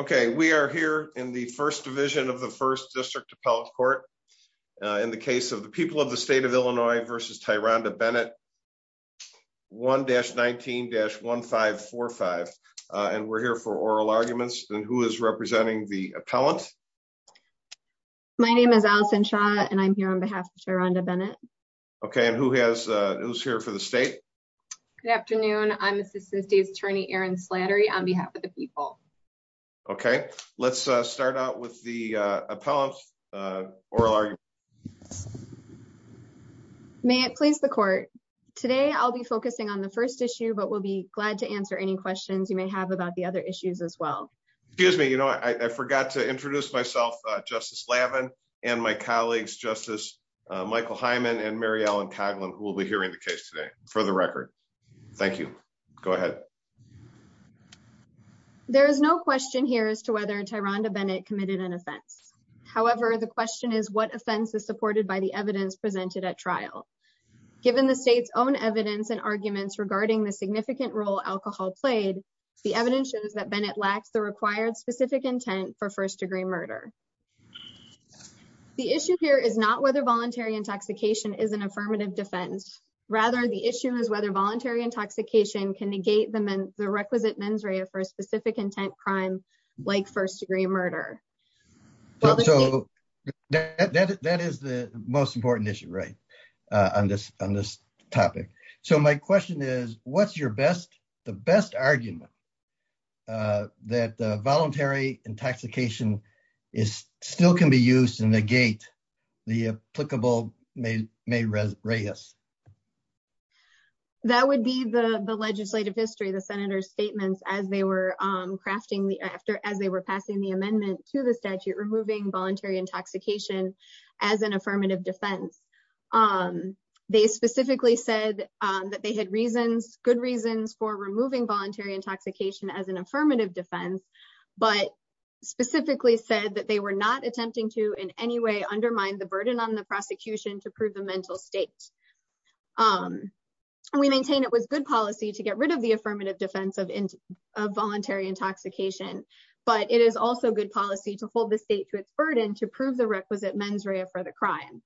Okay, we are here in the first division of the first district appellate court. In the case of the people of the state of Illinois versus Tyron to Bennett 1-19-1545. And we're here for oral arguments and who is representing the appellant. My name is Allison Shaw and I'm here on behalf of Tyron to Bennett. Okay, and who has who's here for the state? Good afternoon. I'm Assistant State Attorney Aaron Slattery on behalf of the people. Okay, let's start out with the appellant. May it please the court. Today, I'll be focusing on the first issue, but we'll be glad to answer any questions you may have about the other issues as well. Excuse me, you know, I forgot to introduce myself, Justice Lavin, and my colleagues, Justice Michael Hyman and Mary Ellen Coughlin, who will be hearing the case today, for the record. Thank you. Go ahead. Okay. There is no question here as to whether Tyron to Bennett committed an offense. However, the question is what offense is supported by the evidence presented at trial. Given the state's own evidence and arguments regarding the significant role alcohol played, the evidence shows that Bennett lacks the required specific intent for first degree murder. The issue here is not whether voluntary intoxication is an affirmative defense. Rather, the issue is whether voluntary intoxication can negate the men, the requisite mens rea for a specific intent crime, like first degree murder. So that is the most important issue, right? On this on this topic. So my question is, what's your best, the best argument that voluntary intoxication is still can be used to negate the applicable may may raise? That would be the legislative history, the senator's statements as they were crafting the after as they were passing the amendment to the statute, removing voluntary intoxication, as an affirmative defense. They specifically said that they had reasons good reasons for removing voluntary intoxication as an affirmative defense, but specifically said that they were not attempting to in any way undermine the burden on the prosecution to prove the mental state. And we maintain it was good policy to get rid of the affirmative defense of voluntary intoxication. But it is also good policy to hold the state to its burden to prove the requisite mens rea for the crime.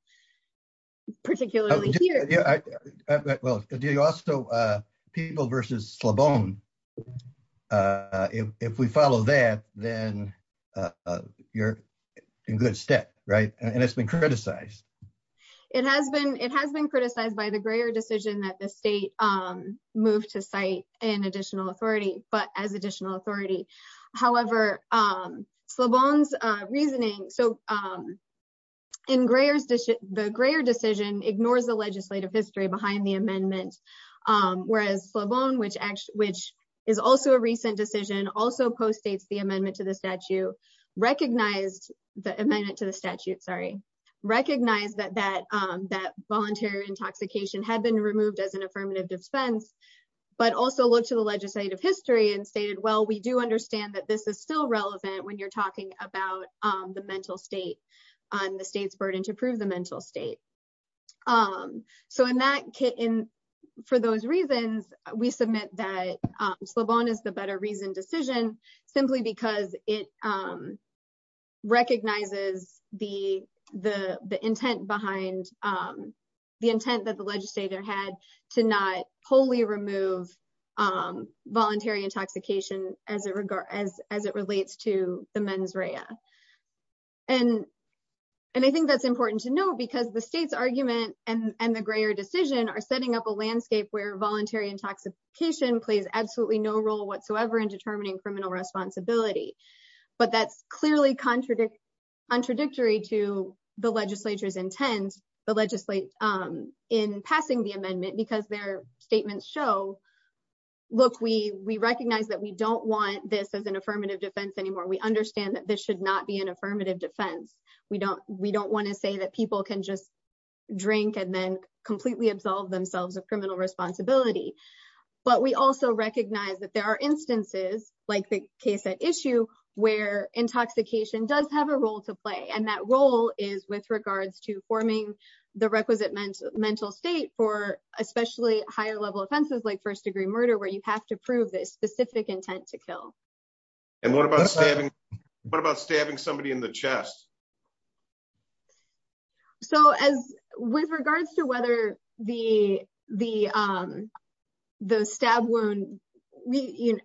Particularly here. Well, do you also people versus Slobone? If we follow that, then you're in good step, right? And it's been criticized. It has been it has been criticized by the Greer decision that the state moved to cite an additional authority, but as additional authority, however, Slobone's reasoning So in Greer's dish, the Greer decision ignores the legislative history behind the amendment. Whereas Slobone, which which is also a recent decision also postdates the amendment to the statute, recognized the amendment to the statute, sorry, recognize that that that voluntary intoxication had been removed as an affirmative defense, but also look to the legislative history and stated, well, we do understand that this is still relevant when you're talking about the mental state on the state's burden to prove the mental state. So in that kit, and for those reasons, we submit that Slobone is the better reason decision, simply because it recognizes the the the intent behind the intent that the legislature had to not wholly remove voluntary intoxication as it relates to the mens rea. And, and I think that's important to know, because the state's argument and the Greer decision are setting up a landscape where voluntary intoxication plays absolutely no role whatsoever in determining criminal responsibility. But that's clearly contradictory to the legislature's intent, the legislate in passing the amendment, because their statements show, look, we, we recognize that we don't want this as an affirmative defense anymore, we understand that this should not be an affirmative defense. We don't, we don't want to say that people can just drink and then completely absolve themselves of criminal responsibility. But we also recognize that there are instances like the case at issue, where intoxication does have a role to play. And that role is with regards to forming the requisite mental mental state for especially higher level offenses like first degree murder, where you have to prove this specific intent to kill. And what about stabbing? What about stabbing somebody in the chest? So as with regards to whether the the the stab wound, we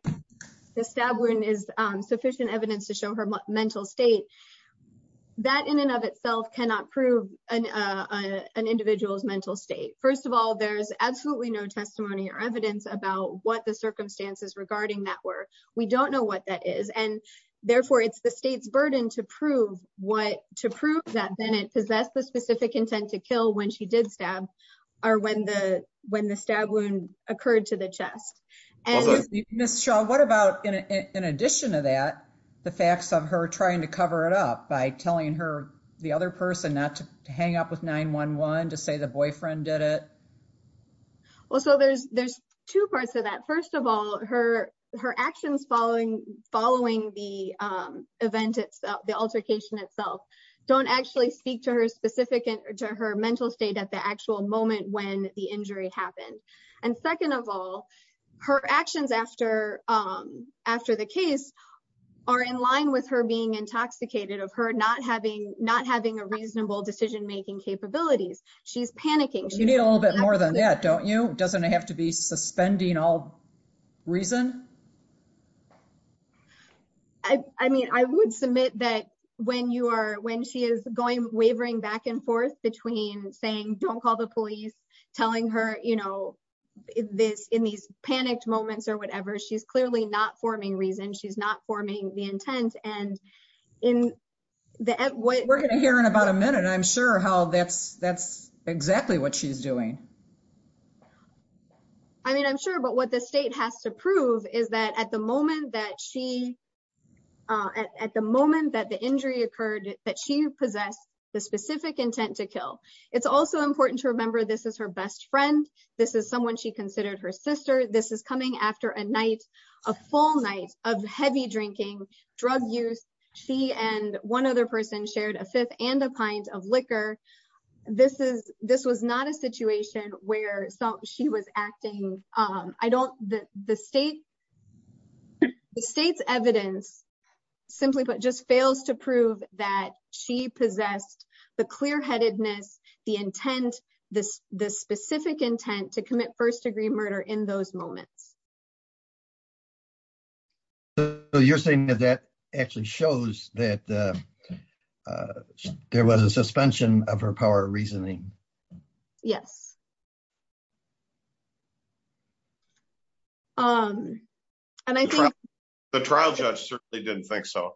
the stab wound is sufficient evidence to show her mental state, that in and of itself cannot prove an individual's mental state. First of all, there's absolutely no testimony or evidence about what the circumstances regarding that were, we don't know what that is. And therefore, it's the state's burden to prove what to prove that Bennett possessed the specific intent to kill when she did stab, or when the when the stab wound occurred to the chest. And Miss Shaw, what about in addition to that, the facts of her trying to cover it up by telling her the other person not to hang up with 911 to say the boyfriend did it? Well, so there's there's two parts of that. First of all, her her actions following following the event, it's the altercation itself, don't actually speak to her specific to her mental state at the after the case are in line with her being intoxicated of her not having not having a reasonable decision making capabilities. She's panicking. You need a little bit more than that, don't you? Doesn't it have to be suspending all reason? I mean, I would submit that when you are when she is going wavering back and forth between saying don't call the police, telling her, you know, this in these panicked moments or whatever, she's clearly not forming reason she's not forming the intent. And in the end, what we're going to hear in about a minute, I'm sure how that's that's exactly what she's doing. I mean, I'm sure but what the state has to prove is that at the moment that she at the moment that the injury occurred, that she possessed the specific intent to kill. It's also important to remember, this is her best friend. This is someone she considered her sister. This is coming after a night, a full night of heavy drinking, drug use. She and one other person shared a fifth and a pint of liquor. This is this was not a situation where she was acting. I don't the state, the state's evidence, simply but just fails to prove that she possessed the clear headedness, the intent, this this specific intent to commit first degree murder in those moments. So you're saying that that actually shows that there was a suspension of her power reasoning? Yes. Um, and I think the trial judge certainly didn't think so.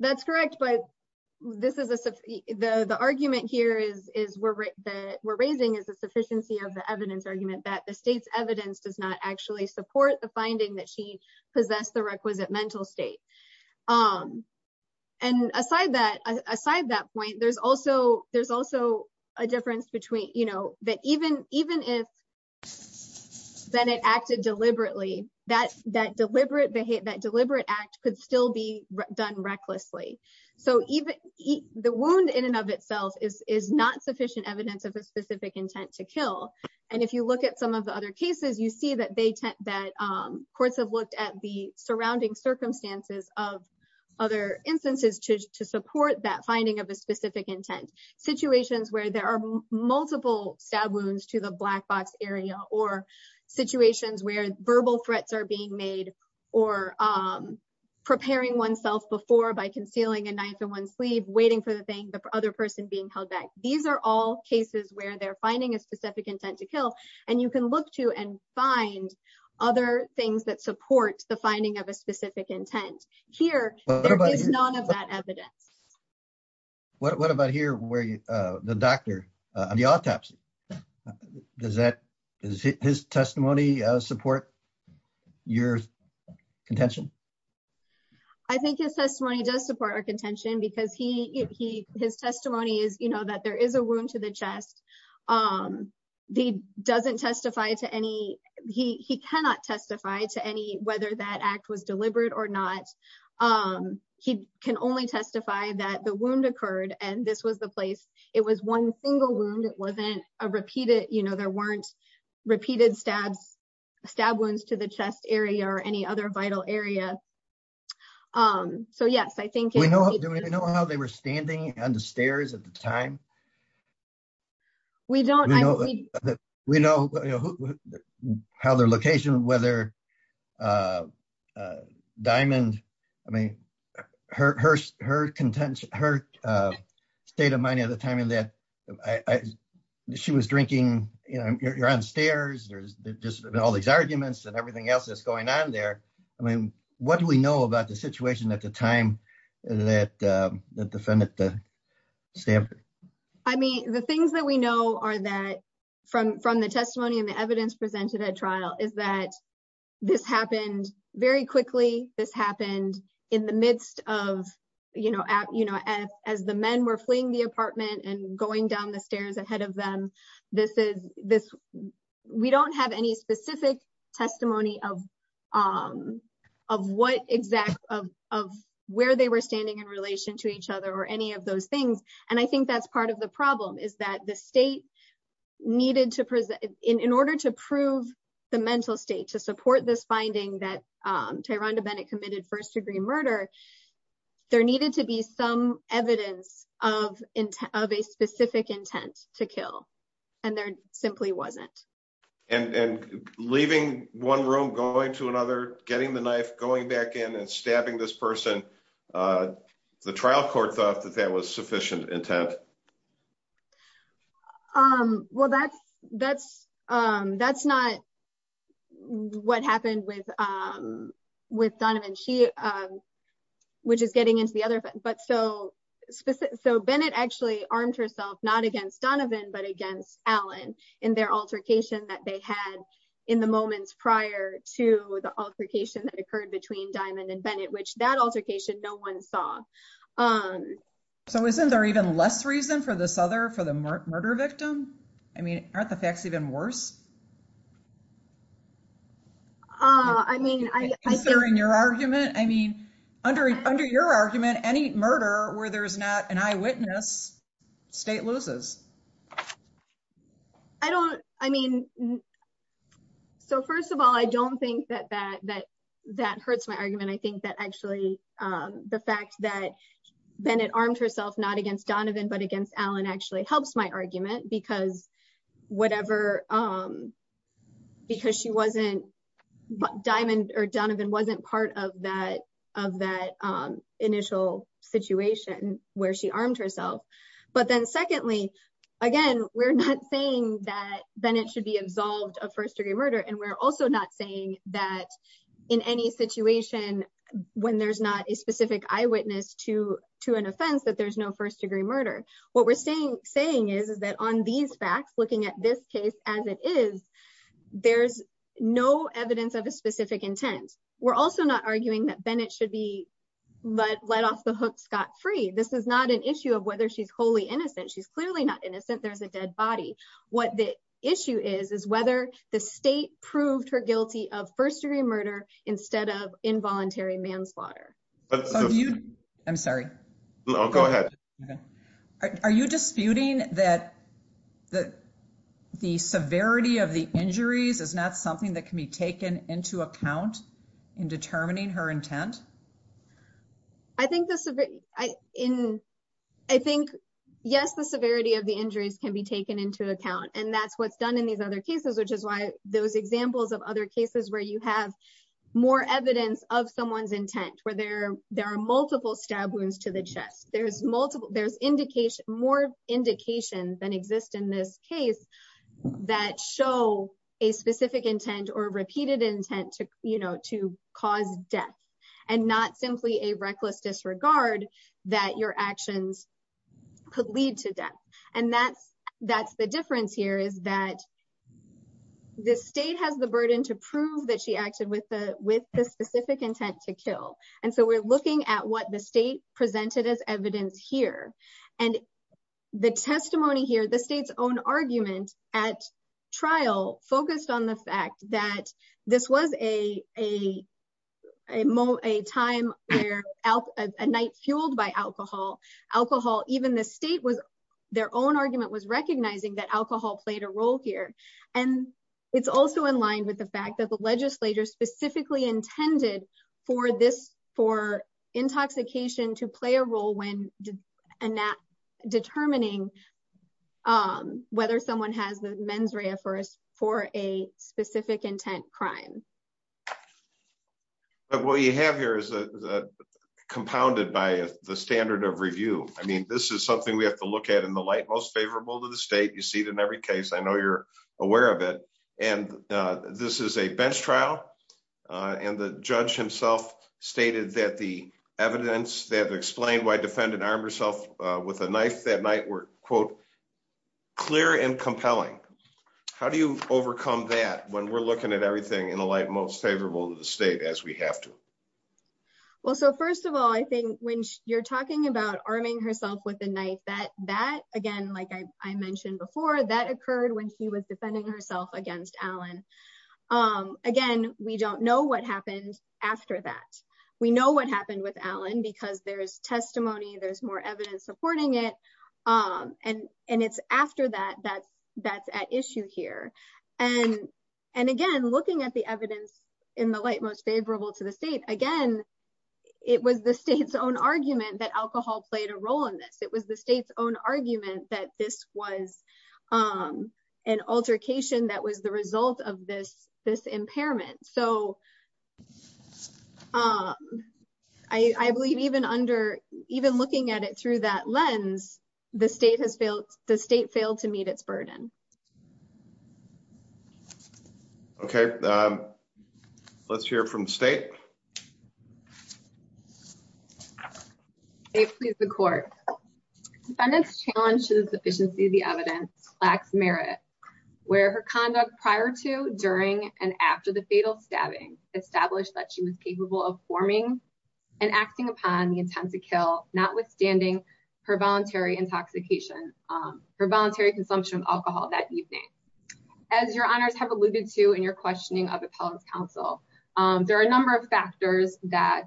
That's correct. But this is the argument here is is we're that we're raising is the sufficiency of the evidence argument that the state's evidence does not actually support the finding that she aside that point, there's also there's also a difference between, you know, that even even if then it acted deliberately, that that deliberate behavior, that deliberate act could still be done recklessly. So even the wound in and of itself is is not sufficient evidence of a specific intent to kill. And if you look at some of the other cases, you see that they that courts have looked at the surrounding circumstances of other instances to support that finding of a specific intent situations where there are multiple stab wounds to the black box area or situations where verbal threats are being made, or preparing oneself before by concealing a knife in one sleeve waiting for the thing the other person being held back. These are all cases where they're find other things that support the finding of a specific intent. Here, there is none of that evidence. What about here where the doctor on the autopsy? Does that his testimony support your contention? I think his testimony does support our contention because he his testimony is, you know, that there is a wound to the chest. The doesn't testify to any, he cannot testify to any whether that act was deliberate or not. He can only testify that the wound occurred. And this was the place. It was one single wound. It wasn't a repeated, you know, there weren't repeated stabs, stab wounds to the chest area or any other vital area. So yes, I think. Do we know how they were standing on the stairs at the time? We don't. We know how their location, whether Diamond, I mean, her state of mind at the time and that she was drinking, you know, you're on stairs, there's just all these arguments and everything else that's going on there. I mean, what do we know about the situation at the time that the defendant stabbed her? I mean, the things that we know are that from the testimony and the evidence presented at trial is that this happened very quickly. This happened in the midst of, you know, as the men were fleeing the apartment and going down the stairs ahead of them. This is this. We don't have any specific testimony of what exact of where they were standing in relation to each other or any of those things. And I think that's part of the problem is that the state needed to present in order to prove the mental state to support this finding that Tyron to Bennett committed first degree murder. There needed to be some evidence of a specific intent to kill. And there simply wasn't. And leaving one room, going to another, getting the knife, going back in and stabbing this person. The trial court thought that that was sufficient intent. Well, that's that's that's not what happened with with Donovan, which is getting into the other. But so so Bennett actually armed herself not against Donovan, but against Allen in their altercation that they had in the moments prior to the altercation that occurred between Diamond and Bennett, which that altercation no one saw. So isn't there even less reason for this other for the murder victim? I mean, aren't the facts even worse? I mean, I think you're in your argument. I mean, under under your argument, any murder where there's not an eyewitness state loses. I don't I mean. So first of all, I don't think that that that that hurts my argument. I think that actually the fact that Bennett armed herself not against Donovan, but against Allen actually helps my argument because whatever, because she wasn't Diamond or Donovan wasn't part of that of that initial situation where she armed herself. But then secondly, again, we're not saying that Bennett should be absolved of first degree murder. And we're also not saying that in any situation when there's not a specific eyewitness to to an offense, that there's no first degree murder. What we're saying saying is, is that on these facts, looking at this case as it is, there's no evidence of a specific intent. We're also not arguing that Bennett should be let off the hook scot free. This is not an issue of whether she's wholly innocent. She's clearly not innocent. There's a dead body. What the issue is, is whether the state proved her guilty of first degree murder instead of involuntary manslaughter. You I'm sorry. Go ahead. Are you disputing that that the severity of the injuries is not something that can be taken into account in determining her intent? I think this in, I think, yes, the severity of the injuries can be taken into account. And that's what's done in these other cases, which is why those examples of other cases where you have more evidence of someone's intent, where there there are multiple stab wounds to the chest, there's multiple, there's indication, more indication than exist in this case, that show a specific intent or repeated intent to, you know, to cause death, and not simply a reckless disregard that your actions could lead to death. And that's, that's the difference here is that the state has the burden to prove that she acted with the with the specific intent to kill. And so we're looking at what the state presented as evidence here. And the testimony here, the state's own argument at trial focused on the fact that this was a a moment a time where out a night fueled by alcohol, alcohol, even the state was, their own argument was recognizing that alcohol played a role here. And it's also in line with the fact that the legislature specifically intended for this for intoxication to play a role when not determining whether someone has the mens rea for us for a specific intent crime. What you have here is compounded by the standard of review. I mean, this is something we have to I know you're aware of it. And this is a bench trial. And the judge himself stated that the evidence they have explained why defendant armed herself with a knife that night were quote, clear and compelling. How do you overcome that when we're looking at everything in the light most favorable to the state as we have to? Well, so first of all, I think when you're talking about arming herself with a knife that again, like I mentioned before, that occurred when she was defending herself against Alan. Again, we don't know what happened after that. We know what happened with Alan, because there's testimony, there's more evidence supporting it. And, and it's after that, that's, that's at issue here. And, and again, looking at the evidence in the light most favorable to the state, again, it was the state's own argument that alcohol played a role in this. It was the state's own argument that this was an altercation that was the result of this, this impairment. So I believe even under even looking at it through that lens, the state has failed, the state failed to meet its burden. Okay. Let's hear it from the state. State please the court. Defendant's challenge to the sufficiency of the evidence lacks merit, where her conduct prior to, during, and after the fatal stabbing established that she was capable of forming and acting upon the intent to kill notwithstanding her voluntary intoxication, her voluntary consumption of alcohol that evening. As your honors have alluded to in your questioning of appellant's counsel, there are a number of factors that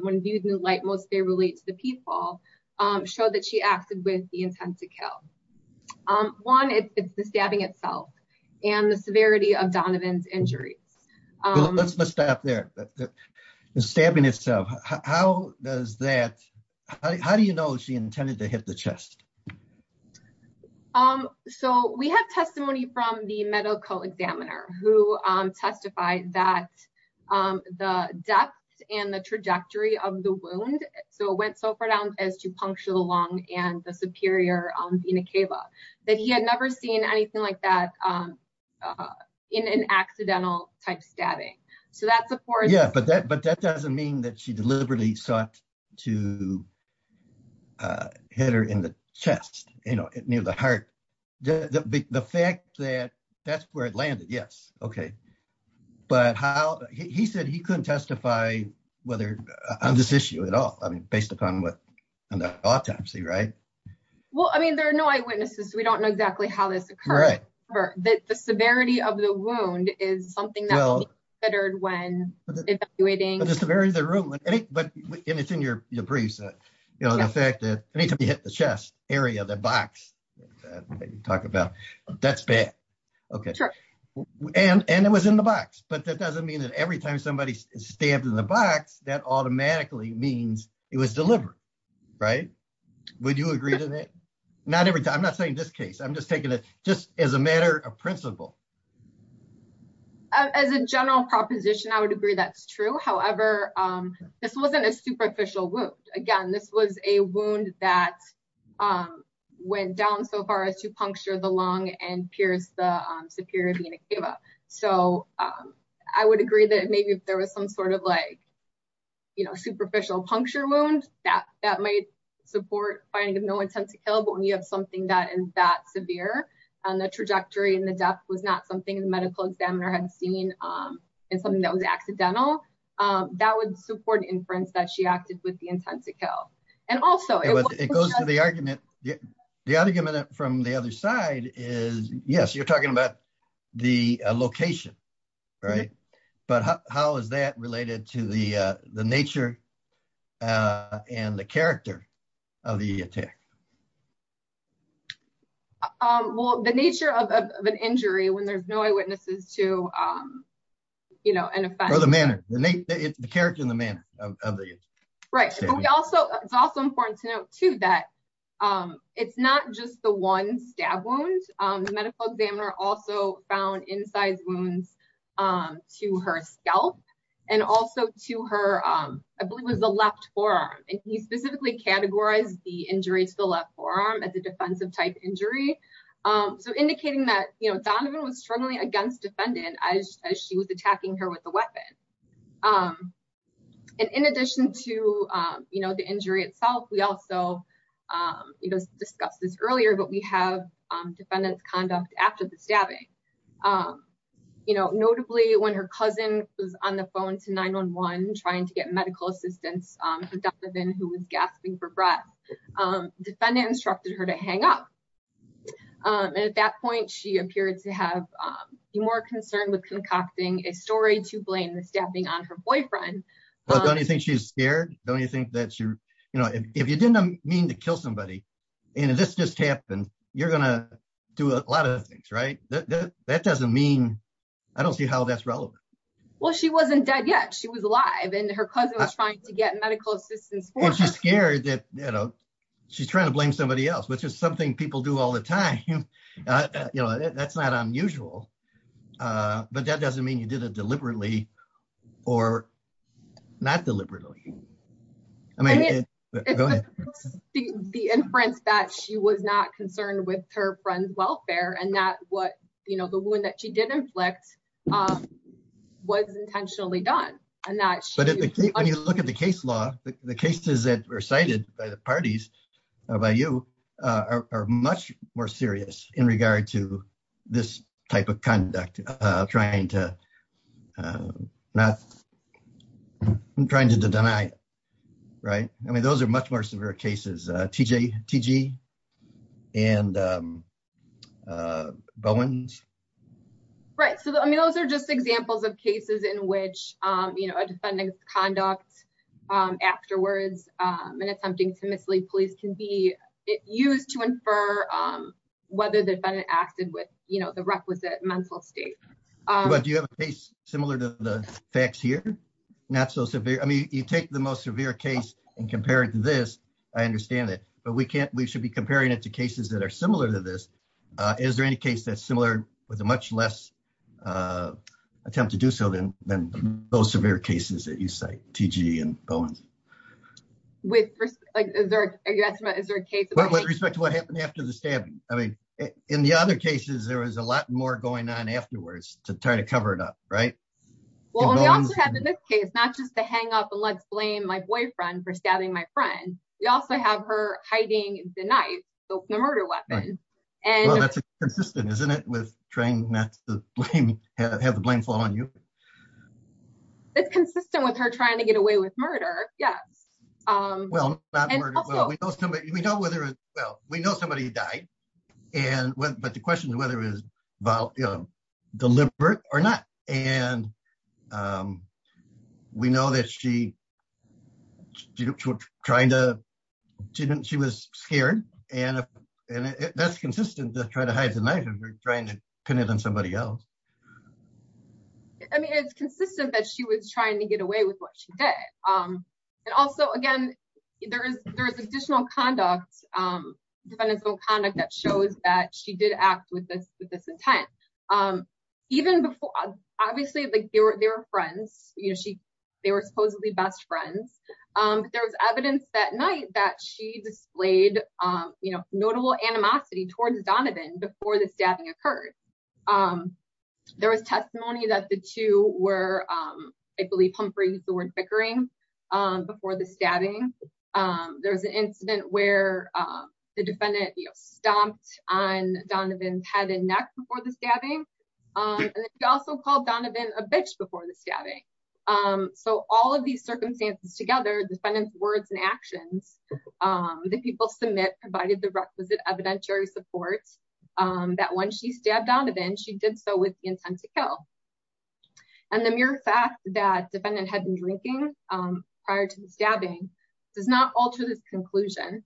when viewed in the light most favorable to the people show that she acted with the intent to kill. One, it's the stabbing itself and the severity of Donovan's injuries. Let's stop there. The stabbing itself, how does that, how do you know she intended to hit the victim? So we have testimony from the medical examiner who testified that the depth and the trajectory of the wound. So it went so far down as to puncture the lung and the superior vena cava that he had never seen anything like that in an accidental type stabbing. So that's of course. But that doesn't mean that she deliberately sought to hit her in the chest, you know, near the heart. The fact that that's where it landed. Yes. Okay. But how, he said he couldn't testify whether on this issue at all. I mean, based upon what, on the autopsy, right? Well, I mean, there are no eyewitnesses. We don't know exactly how this occurred, but the severity of the wound is something that we considered when evaluating. But the severity of the wound, but it's in your briefs, you know, the fact that anytime you hit the chest area, the box that you talk about, that's bad. Okay. And it was in the box, but that doesn't mean that every time somebody stabbed in the box, that automatically means it was delivered, right? Would you agree to that? Not every time. I'm not saying this case, I'm just taking it just as a matter of principle. As a general proposition, I would agree that's true. However, this wasn't a superficial wound. Again, this was a wound that went down so far as to puncture the lung and pierce the superior vena cava. So I would agree that maybe if there was some sort of like, you know, superficial puncture wound that might support finding no intent to kill, but when you have something that is that severe, and the trajectory and the depth was not something the medical examiner had seen, and something that was accidental, that would support inference that she acted with the intent to kill. And also- It goes to the argument. The argument from the other side is, yes, you're talking about the location, right? But how is that of the attack? Well, the nature of an injury when there's no eyewitnesses to, you know, an offense- Or the manner. The character and the manner of the- Right. It's also important to note, too, that it's not just the one stab wound. The medical examiner also found in size wounds to her scalp and also to her, I believe it was the left forearm. And he specifically categorized the injury to the left forearm as a defensive type injury. So indicating that, you know, Donovan was struggling against defendant as she was attacking her with the weapon. And in addition to, you know, the injury itself, we also discussed this earlier, but we have defendant's conduct after the stabbing. You know, notably when her cousin was on the phone to 911 trying to get medical assistance for Donovan, who was gasping for breath, defendant instructed her to hang up. And at that point, she appeared to have been more concerned with concocting a story to blame the stabbing on her boyfriend. But don't you think she's scared? Don't you think that you're, you know, if you didn't mean to kill somebody, and this just happened, you're going to do a lot of things, right? That doesn't mean, I don't see how that's relevant. Well, she wasn't dead yet. She was alive and her cousin was trying to get medical assistance. She's scared that, you know, she's trying to blame somebody else, which is something people do all the time. You know, that's not unusual. But that doesn't mean you did it deliberately or not deliberately. I mean, it's the inference that she was not concerned with her friend's welfare and that what, you know, the wound that she did inflict was intentionally done. When you look at the case law, the cases that were cited by the parties, by you, are much more serious in regard to this type of conduct, trying to not, I'm trying to deny, right? I mean, those are much more severe cases, T.G. and Bowens. Right. So, I mean, those are just examples of cases in which, you know, a defendant's conduct afterwards in attempting to mislead police can be used to infer whether the defendant acted with, you know, the requisite mental state. But do you have a case similar to the facts here? Not so severe. I mean, you take the most severe case and compare it to this. I understand it. But we can't, we should be comparing it to cases that are similar to this. Is there any case that's similar with a much less attempt to do so than those severe cases that you cite, T.G. and Bowens? With respect to what happened after the stabbing? I mean, in the other cases, there was a lot more going on afterwards to try to cover it up, right? Well, and we also have in this case, not just the hang up and let's blame my boyfriend for stabbing my friend. We also have her hiding the knife, the murder weapon. That's consistent, isn't it, with trying not to have the blame fall on you? It's consistent with her trying to get away with murder, yes. Well, we know somebody died. But the question is whether it was deliberate or not. And we know that she was scared. And that's consistent to try to hide the knife and trying to pin it on somebody else. I mean, it's consistent that she was trying to get away with what she did. And also, again, there is additional conduct, defendant's own conduct that shows that she did act with this intent. Obviously, they were friends. They were supposedly best friends. There was evidence that night that she displayed notable animosity towards Donovan before the stabbing occurred. There was testimony that the two were, I believe, humphreys who were bickering before the stabbing. There was an incident where the defendant stomped on Donovan's head and neck before the stabbing. And she also called Donovan a bitch before the stabbing. So all of these circumstances together, defendant's words and actions that people submit provided the requisite evidentiary support that when she did so with the intent to kill. And the mere fact that defendant had been drinking prior to the stabbing does not alter this conclusion.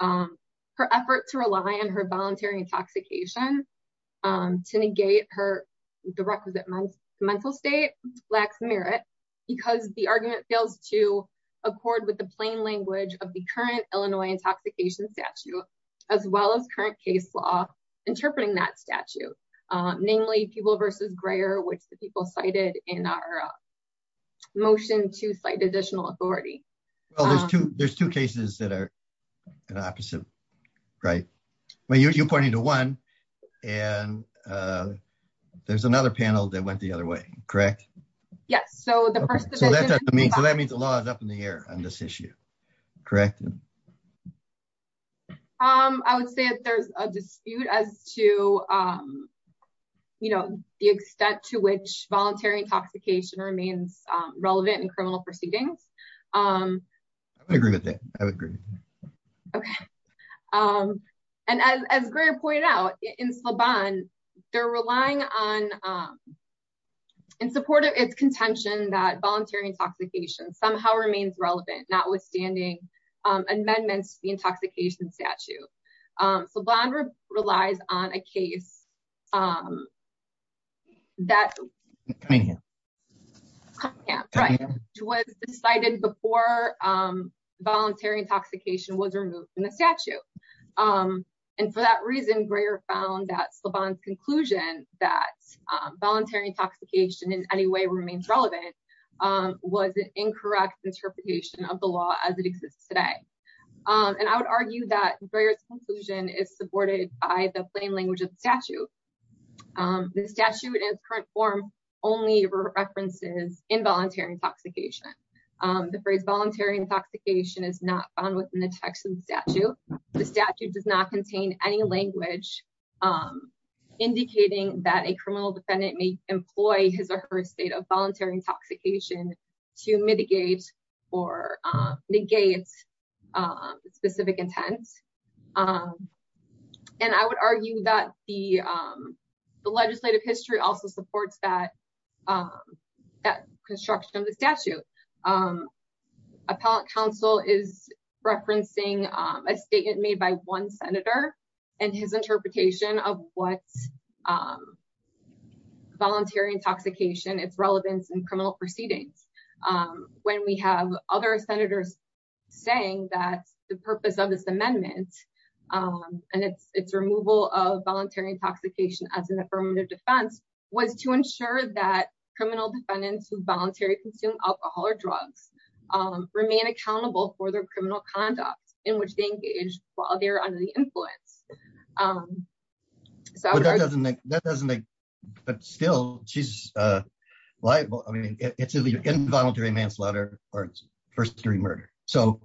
Her effort to rely on her voluntary intoxication to negate the requisite mental state lacks merit, because the argument fails to accord with the plain language of the current Illinois intoxication statute, as well as current case law interpreting that statute. Namely, Peeble versus Greyer, which the people cited in our motion to cite additional authority. Well, there's two cases that are an opposite, right? Well, you're pointing to one. And there's another panel that went the other way, correct? Yes. So that means the law is up in the air on this issue. Correct? Um, I would say that there's a dispute as to, you know, the extent to which voluntary intoxication remains relevant in criminal proceedings. I agree with that. I would agree. Okay. And as Greer pointed out, in Slaban, they're relying on, in support of its contention that voluntary intoxication somehow remains relevant, notwithstanding amendments to the intoxication statute. Slaban relies on a case that was decided before voluntary intoxication was removed from the statute. And for that reason, was an incorrect interpretation of the law as it exists today. And I would argue that Greer's conclusion is supported by the plain language of the statute. The statute in its current form only references involuntary intoxication. The phrase voluntary intoxication is not found within the text of the statute. The statute does not contain any language indicating that a criminal defendant may employ his or her state of voluntary intoxication to mitigate or negate specific intent. And I would argue that the legislative history also supports that construction of the statute. Appellate counsel is referencing a statement made by one senator and his interpretation of what's voluntary intoxication, its relevance in criminal proceedings. When we have other senators saying that the purpose of this amendment and its removal of voluntary intoxication as an affirmative defense was to ensure that criminal defendants who voluntarily consume alcohol or drugs remain accountable for their criminal conduct in while they're under the influence. But still, she's liable. I mean, it's either involuntary manslaughter or first degree murder. So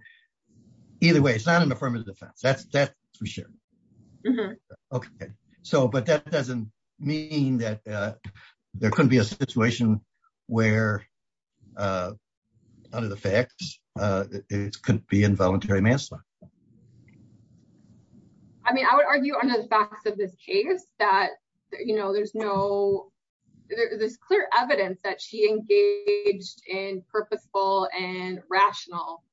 either way, it's not an affirmative defense. That's for sure. Okay. So but that doesn't mean that there couldn't be a situation where under the facts, it could be involuntary manslaughter. I mean, I would argue under the facts of this case that, you know, there's no, there's clear evidence that she engaged in purposeful and rational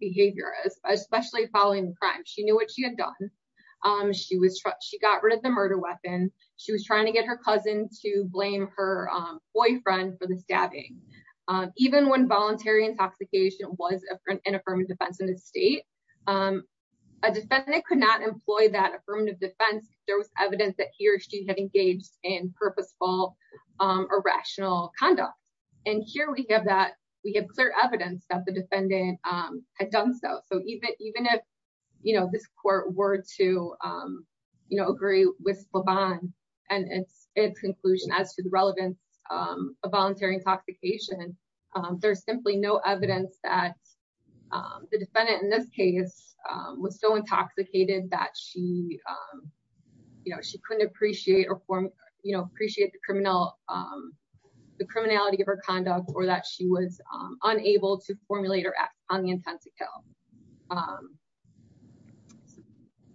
behavior, especially following the crime. She knew what she had done. She was, she got rid of the murder weapon. She was trying to get her cousin to blame her boyfriend for the stabbing. Even when voluntary intoxication was an affirmative defense in the state, a defendant could not employ that affirmative defense, there was evidence that he or she had engaged in purposeful or rational conduct. And here we have that, we have clear evidence that the defendant had done so. So even if, you know, this court were to, you know, agree with LaVaughn and its conclusion as to the relevance of voluntary intoxication, there's simply no evidence that the defendant in this case was so intoxicated that she, you know, she couldn't appreciate or form, you know, appreciate the criminal, the criminality of her conduct or that she was unable to formulate her act on the intent to kill.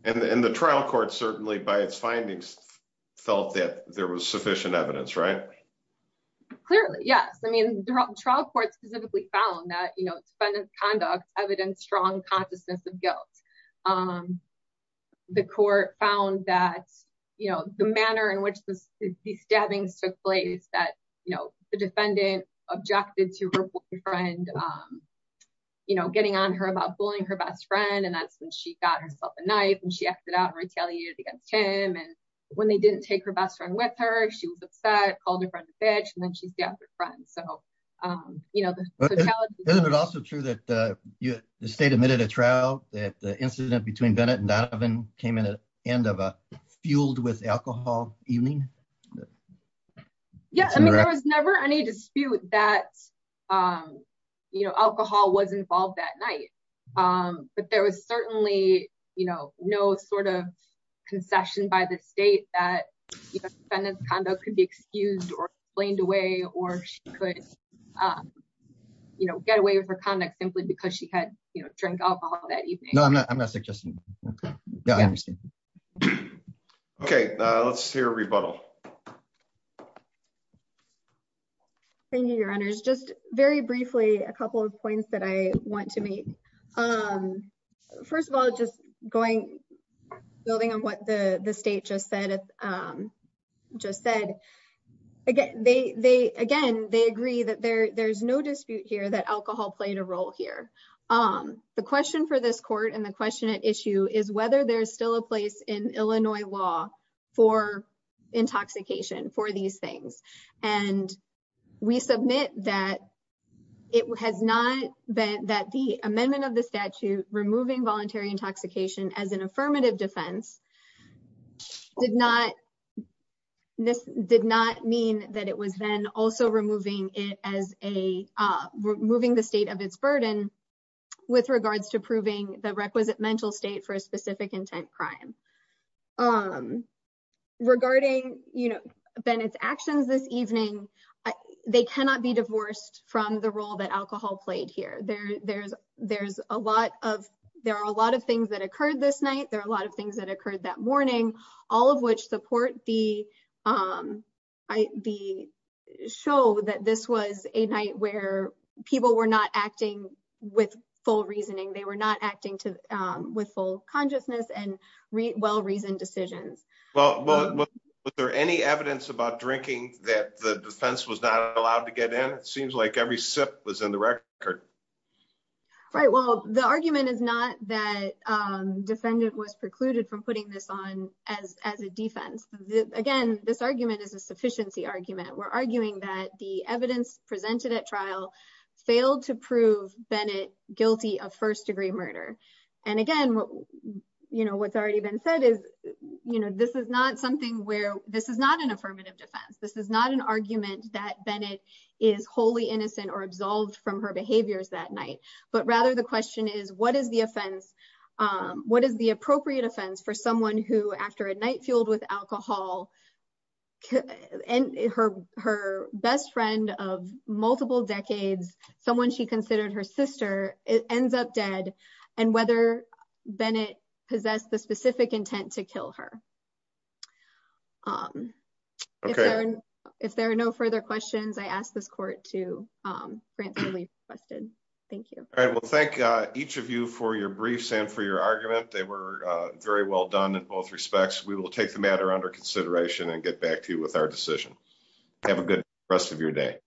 And the trial court certainly by its findings, felt that there was clearly, yes. I mean, trial court specifically found that, you know, defendant's conduct evidence strong consciousness of guilt. The court found that, you know, the manner in which these stabbings took place that, you know, the defendant objected to her boyfriend, you know, getting on her about bullying her best friend. And that's when she got herself a knife and she acted out and retaliated against him. And when they didn't take her best friend with her, she was upset, called her friend a bitch and then she stabbed her friend. So, you know, Isn't it also true that the state admitted a trial that the incident between Bennett and Donovan came in at the end of a fueled with alcohol evening? Yeah, I mean, there was never any dispute that, you know, alcohol was involved that night. But there was certainly, you know, no sort of concession by the state that, you know, defendant's conduct could be excused or blamed away or she could, you know, get away with her conduct simply because she had, you know, drink alcohol that evening. No, I'm not. I'm not suggesting. Okay, let's hear a rebuttal. Thank you, your honors. Just very briefly, a couple of points that I want to make. First of all, just going building on what the state just said. Again, they agree that there's no dispute here that alcohol played a role here. The question for this court and the question at issue is whether there's still a place in Illinois law for intoxication for these things. And we submit that it has not been that the amendment of the statute removing voluntary intoxication as an affirmative defense did not mean that it was then also removing it as a removing the state of its burden with regards to proving the requisite mental state for a specific intent crime. Regarding, you know, Bennett's actions this evening, they cannot be divorced from the role that alcohol played here. There are a lot of things that occurred this night. There are a lot of things that occurred that morning, all of which support the show that this was a night where people were not acting with full reasoning. They were not acting with full consciousness and well-reasoned decisions. Well, was there any evidence about drinking that the defense was not allowed to get in? It seems like every sip was in the record. Right. Well, the argument is not that defendant was precluded from putting this on as a defense. Again, this argument is a sufficiency argument. We're arguing that the evidence presented at trial failed to prove Bennett guilty of first degree murder. And again, you know, what's already been said is, you know, this is not something where this is not an affirmative defense. This is not an argument that Bennett is wholly innocent or absolved from her behaviors that night. But rather, the question is, what is the offense? What is the appropriate offense for someone who after a night with alcohol and her best friend of multiple decades, someone she considered her sister, it ends up dead and whether Bennett possessed the specific intent to kill her. If there are no further questions, I ask this court to grant the requested. Thank you. All right. Well, thank each of you for your briefs and for your argument. They were very well done in both respects. We will take the matter under consideration and get back to you with our decision. Have a good rest of your day.